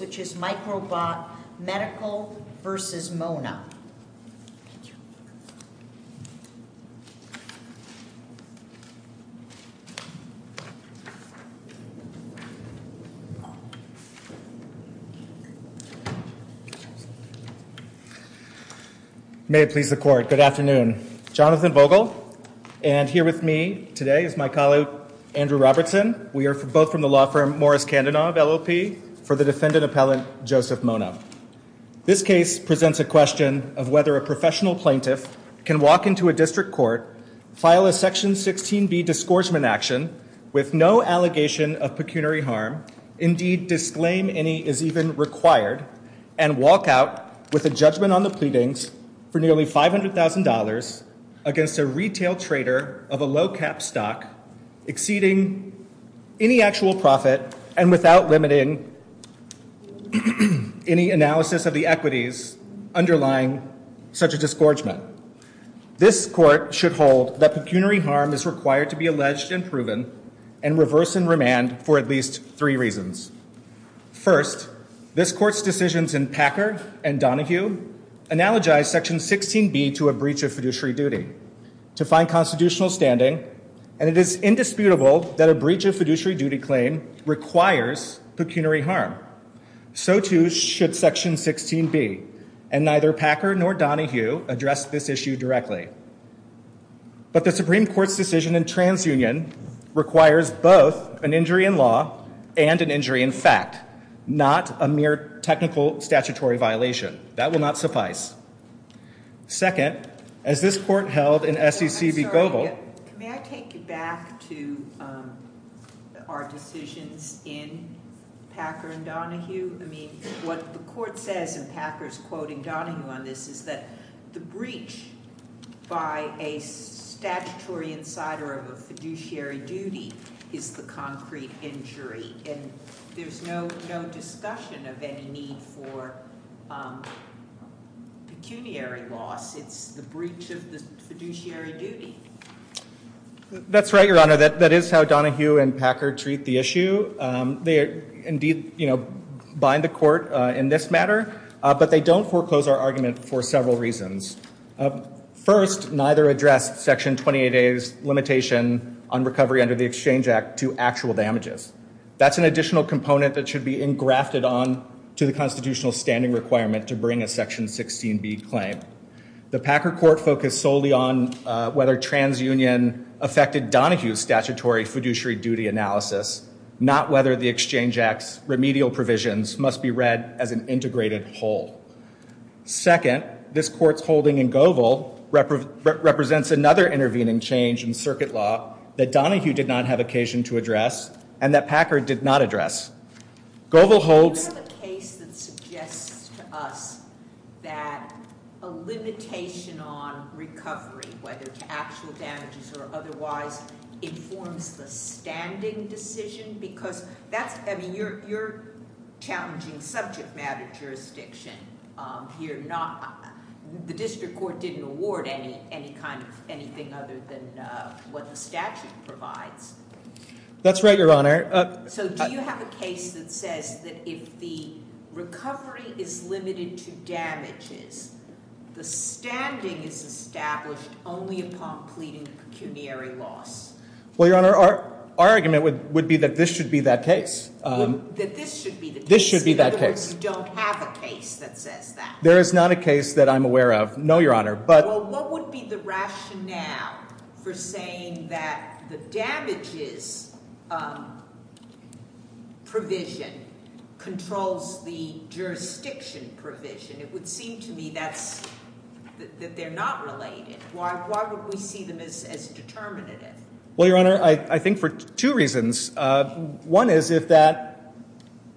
Microbot Medical, Inc. v. Mona May it please the Court. Good afternoon. Jonathan Vogel and here with me today is my colleague Andrew Robertson. We are both from the law firm Morris Kandanov, LLP, for the defendant appellant Joseph Mona. This case presents a question of whether a professional plaintiff can walk into a district court, file a Section 16b discouragement action with no allegation of pecuniary harm, indeed disclaim any is even required, and walk out with a judgment on the pleadings for nearly $500,000 against a retail trader of a low cap stock exceeding any actual profit and without limiting any analysis of the equities underlying such a disgorgement. This court should hold that pecuniary harm is required to be alleged and proven and reverse and remand for at least three reasons. First, this court's decisions in Packard and Donohue analogize Section 16b to a breach of fiduciary duty to find constitutional standing and it is indisputable that a breach of fiduciary duty claim requires pecuniary harm. So too should Section 16b and neither Packard nor Donohue address this issue directly. But the Supreme Court's decision in TransUnion requires both an injury in law and an injury in fact, not a mere technical statutory violation. That will not suffice. Second, as this court held in SEC v. Goebel. May I take you back to our decisions in Packard and Donohue? I mean, what the court says in Packard's quoting Donohue on this is that the breach by a statutory insider of a fiduciary duty is the concrete injury and there's no discussion of any need for pecuniary loss. It's the breach of the fiduciary duty. That's right, Your Honor. That is how Donohue and Packard treat the issue. They indeed, you know, bind the court in this matter, but they don't foreclose our argument for several reasons. First, neither address Section 28a's limitation on recovery under the Exchange Act to actual damages. That's an additional component that should be engrafted on to the constitutional standing requirement to bring a Section 16b claim. The Packard court focused solely on whether TransUnion affected Donohue's statutory fiduciary duty analysis, not whether the Exchange Act's remedial provisions must be read as an integrated whole. Second, this court's holding in Goebel represents another intervening change in circuit law that Donohue did not have occasion to address and that Packard did not address. Do you have a case that suggests to us that a limitation on recovery, whether to actual damages or otherwise, informs the standing decision? Because that's, I mean, you're challenging subject matter jurisdiction here. The district court didn't award any kind of anything other than what the statute provides. That's right, Your Honor. So do you have a case that says that if the recovery is limited to damages, the standing is established only upon pleading pecuniary loss? Well, Your Honor, our argument would be that this should be that case. That this should be the case? This should be that case. In other words, you don't have a case that says that? There is not a case that I'm aware of. No, Your Honor, but Well, what would be the rationale for saying that the damages provision controls the jurisdiction provision? It would seem to me that they're not related. Why would we see them as determinative? Well, Your Honor, I think for two reasons. One is if that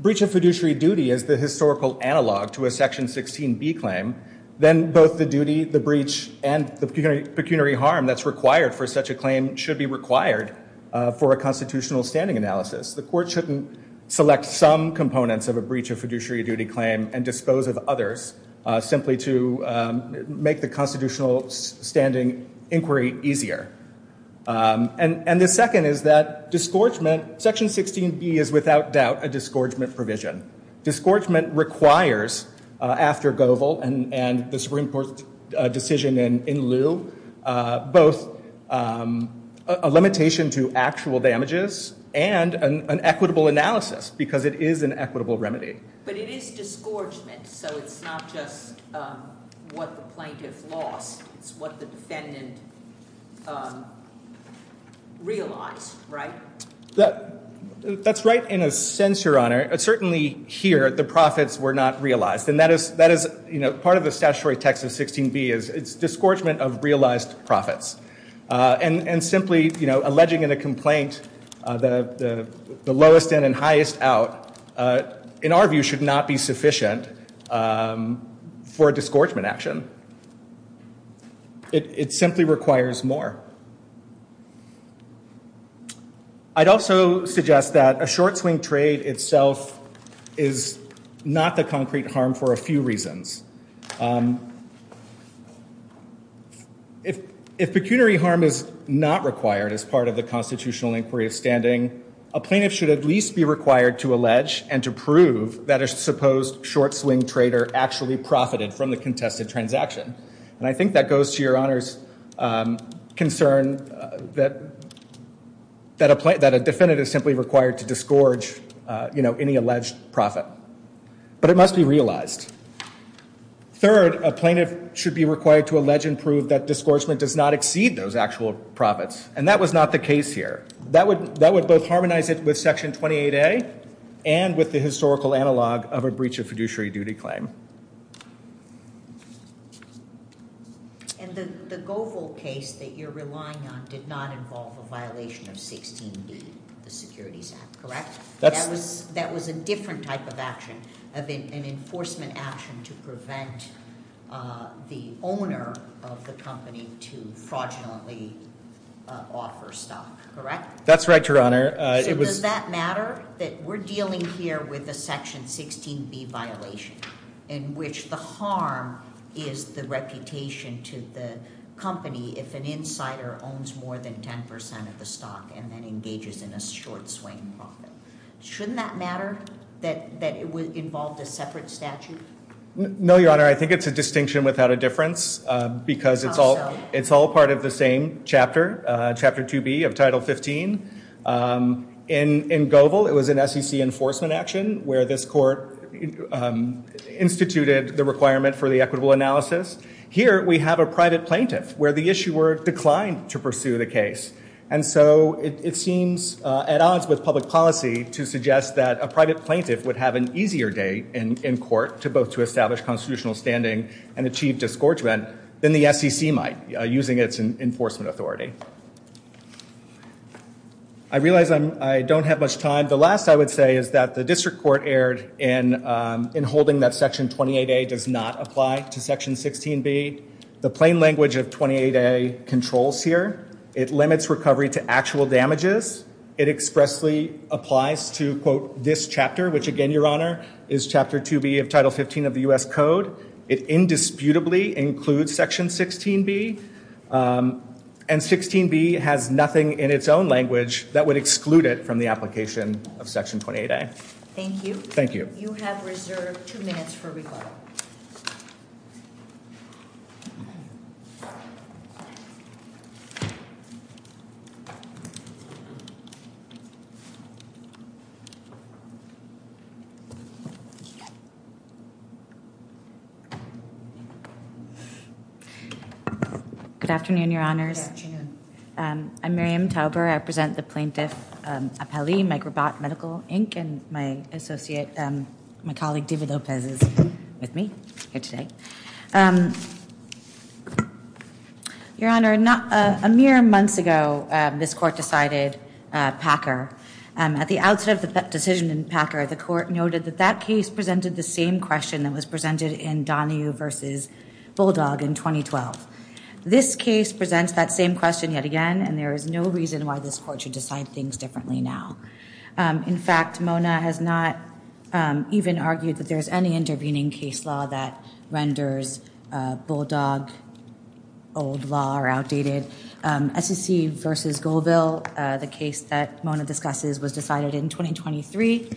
breach of fiduciary duty is the historical analog to a Section 16B claim, then both the duty, the breach, and the pecuniary harm that's required for such a claim should be required for a constitutional standing analysis. The court shouldn't select some components of a breach of fiduciary duty claim and dispose of others simply to make the constitutional standing inquiry easier. And the second is that section 16B is without doubt a disgorgement provision. Disgorgement requires, after Goebel and the Supreme Court decision in lieu, both a limitation to actual damages and an equitable analysis because it is an equitable remedy. But it is disgorgement, so it's not just what the plaintiff lost. It's what the defendant realized, right? That's right in a sense, Your Honor. Certainly here, the profits were not realized. And that is part of the statutory text of 16B is it's disgorgement of realized profits. And simply alleging in a complaint the lowest in and highest out, in our view, should not be sufficient for a disgorgement action. It simply requires more. I'd also suggest that a short-swing trade itself is not the concrete harm for a few reasons. If pecuniary harm is not required as part of the constitutional inquiry of standing, a plaintiff should at least be required to allege and to prove that a supposed short-swing trader actually profited from the contested transaction. And I think that goes to Your Honor's concern that a defendant is simply required to disgorge, you know, any alleged profit. But it must be realized. Third, a plaintiff should be required to allege and prove that disgorgement does not exceed those actual profits. And that was not the case here. That would both harmonize it with Section 28A and with the historical analog of a breach of fiduciary duty claim. And the Goebel case that you're relying on did not involve a violation of 16B, the Securities Act, correct? That was a different type of action, an enforcement action to prevent the owner of the company to fraudulently offer stock, correct? That's right, Your Honor. So does that matter that we're dealing here with a Section 16B violation in which the harm is the reputation to the company if an insider owns more than 10% of the stock and then engages in a short-swing profit? Shouldn't that matter that it involved a separate statute? No, Your Honor. I think it's a distinction without a difference because it's all part of the same chapter, Chapter 2B of Title 15. In Goebel, it was an SEC enforcement action where this court instituted the requirement for the equitable analysis. Here we have a private plaintiff where the issuer declined to pursue the case. And so it seems at odds with public policy to suggest that a private plaintiff would have an easier day in court both to establish constitutional standing and achieve disgorgement than the SEC might using its enforcement authority. I realize I don't have much time. The last I would say is that the district court erred in holding that Section 28A does not apply to Section 16B. The plain language of 28A controls here. It limits recovery to actual damages. It expressly applies to, quote, this chapter, which again, Your Honor, is Chapter 2B of Title 15 of the U.S. Code. It indisputably includes Section 16B. And 16B has nothing in its own language that would exclude it from the application of Section 28A. Thank you. Thank you. You have reserved two minutes for rebuttal. Good afternoon, Your Honors. I'm Miriam Tauber. I represent the Plaintiff Appellee, Microbot Medical, Inc. And my associate, my colleague, David Lopez, is with me here today. Your Honor, a mere months ago, this court decided Packer. At the outset of the decision in Packer, the court noted that that case presented the same question that was presented in Donahue v. Bulldog in 2012. This case presents that same question yet again. And there is no reason why this court should decide things differently now. In fact, Mona has not even argued that there is any intervening case law that renders Bulldog old law or outdated. SEC v. Goldville, the case that Mona discusses, was decided in 2023,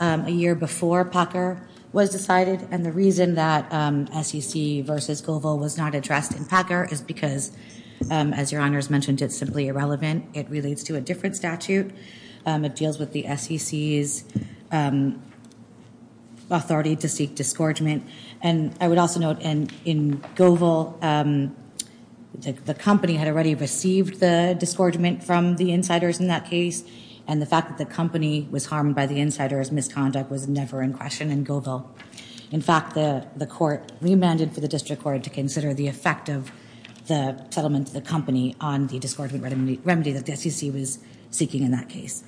a year before Packer was decided. And the reason that SEC v. Goldville was not addressed in Packer is because, as Your Honors mentioned, it's simply irrelevant. It relates to a different statute. It deals with the SEC's authority to seek disgorgement. And I would also note in Goldville, the company had already received the disgorgement from the insiders in that case. And the fact that the company was harmed by the insiders' misconduct was never in question in Goldville. In fact, the court remanded for the district court to consider the effect of the settlement to the company on the disgorgement remedy that the SEC was seeking in that case.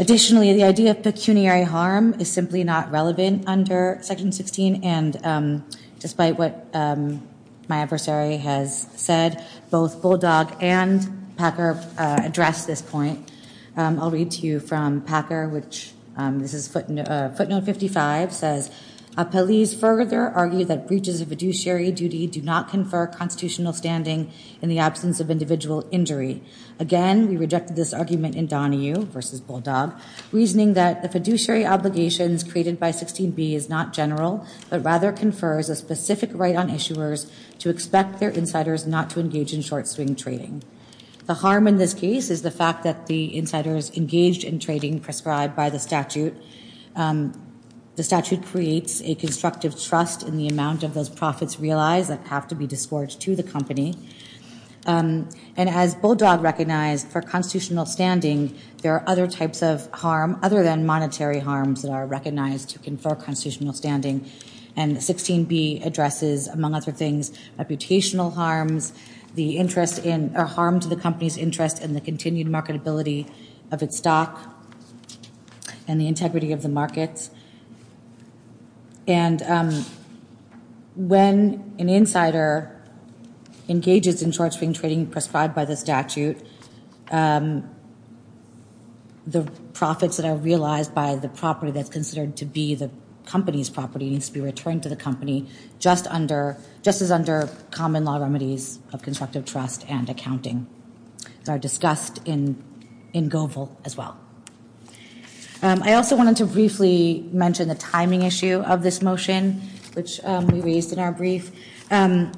Additionally, the idea of pecuniary harm is simply not relevant under Section 16. And despite what my adversary has said, both Bulldog and Packer address this point. I'll read to you from Packer, which this is footnote 55, says, Appellees further argue that breaches of fiduciary duty do not confer constitutional standing in the absence of individual injury. Again, we rejected this argument in Donahue v. Bulldog, reasoning that the fiduciary obligations created by 16b is not general, but rather confers a specific right on issuers to expect their insiders not to engage in short-swing trading. The harm in this case is the fact that the insiders engaged in trading prescribed by the statute. The statute creates a constructive trust in the amount of those profits realized that have to be disgorged to the company. And as Bulldog recognized, for constitutional standing, there are other types of harm other than monetary harms that are recognized to confer constitutional standing. And 16b addresses, among other things, reputational harms, the harm to the company's interest, and the continued marketability of its stock and the integrity of the markets. And when an insider engages in short-swing trading prescribed by the statute, the profits that are realized by the property that's considered to be the company's property needs to be returned to the company just as under common law remedies of constructive trust and accounting. These are discussed in Goebel as well. I also wanted to briefly mention the timing issue of this motion, which we raised in our brief. In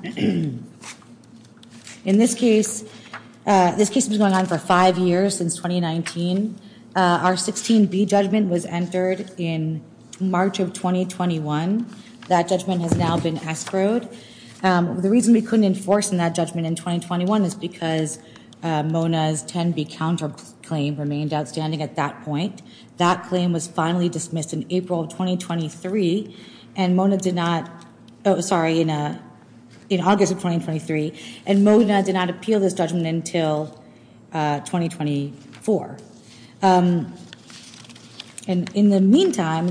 this case, this case has been going on for five years, since 2019. Our 16b judgment was entered in March of 2021. That judgment has now been escrowed. The reason we couldn't enforce that judgment in 2021 is because Mona's 10b counterclaim remained outstanding at that point. That claim was finally dismissed in August of 2023, and Mona did not appeal this judgment until 2024. In the meantime,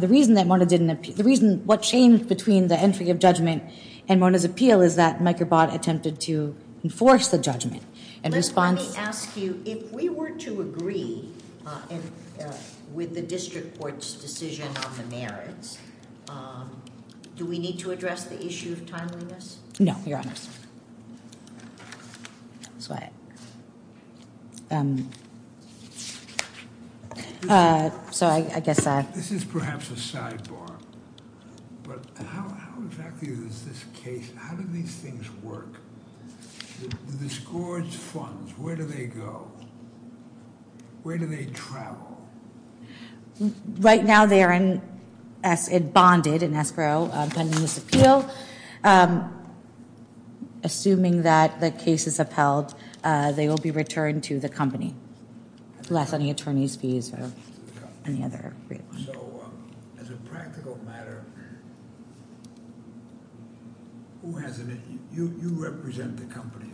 what changed between the entry of judgment and Mona's appeal is that Microbot attempted to enforce the judgment. Let me ask you, if we were to agree with the district court's decision on the merits, do we need to address the issue of timeliness? No, Your Honor. This is perhaps a sidebar, but how exactly does this case, how do these things work? The disgorge funds, where do they go? Where do they travel? Right now, they are bonded in escrow pending this appeal. Assuming that the case is upheld, they will be returned to the company, unless any attorney's fees or any other reason. As a practical matter, you represent the company.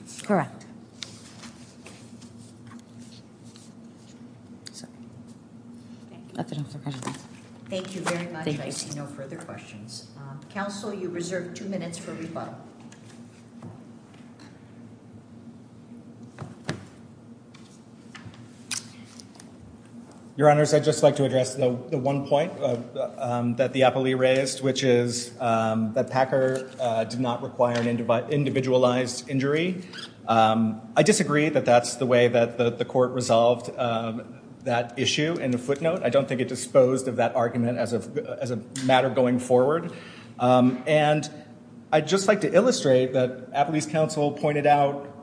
Thank you very much. I see no further questions. Counsel, you reserve two minutes for rebuttal. Your Honors, I'd just like to address the one point that the appellee raised, which is that Packer did not require an individualized injury. I disagree that that's the way that the court resolved that issue in the footnote. I don't think it disposed of that argument as a matter going forward. And I'd just like to illustrate that appellee's counsel pointed out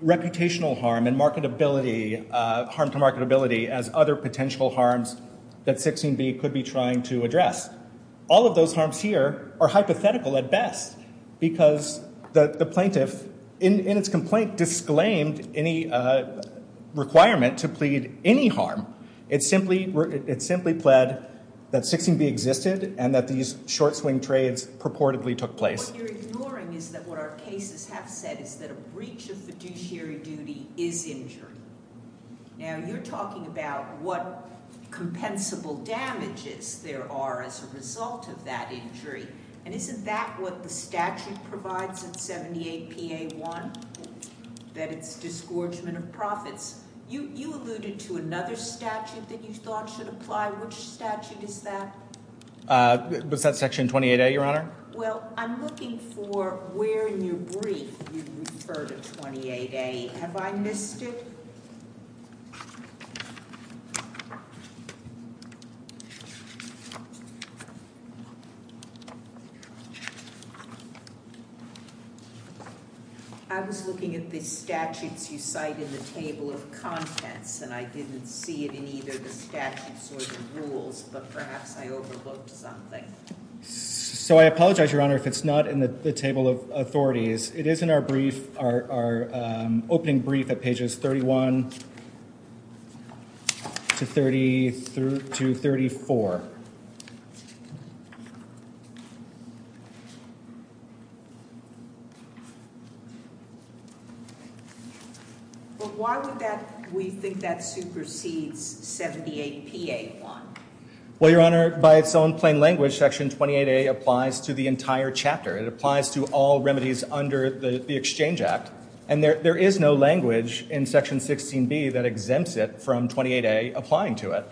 reputational harm and marketability, harm to marketability as other potential harms that 16B could be trying to address. All of those harms here are hypothetical at best because the plaintiff, in its complaint, disclaimed any requirement to plead any harm. It simply pled that 16B existed and that these short-swing trades purportedly took place. What you're ignoring is that what our cases have said is that a breach of fiduciary duty is injury. Now, you're talking about what compensable damages there are as a result of that injury. And isn't that what the statute provides in 78PA1, that it's disgorgement of profits? You alluded to another statute that you thought should apply. Which statute is that? Was that Section 28A, Your Honor? Well, I'm looking for where in your brief you refer to 28A. Have I missed it? I was looking at the statutes you cite in the table of contents, and I didn't see it in either the statutes or the rules, but perhaps I overlooked something. So I apologize, Your Honor, if it's not in the table of authorities. It is in our opening brief at pages 31 to 34. But why would we think that supersedes 78PA1? Well, Your Honor, by its own plain language, Section 28A applies to the entire chapter. It applies to all remedies under the Exchange Act. And there is no language in Section 16B that exempts it from 28A applying to it.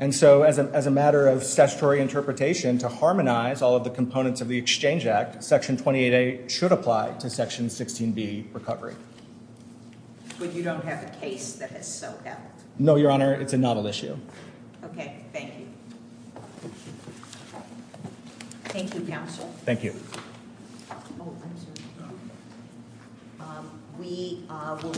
And so as a matter of statutory interpretation, to harmonize all of the components of the Exchange Act, Section 28A should apply to Section 16B recovery. But you don't have a case that is so dealt? No, Your Honor. It's a novel issue. Okay. Thank you. Thank you, Counsel. Thank you.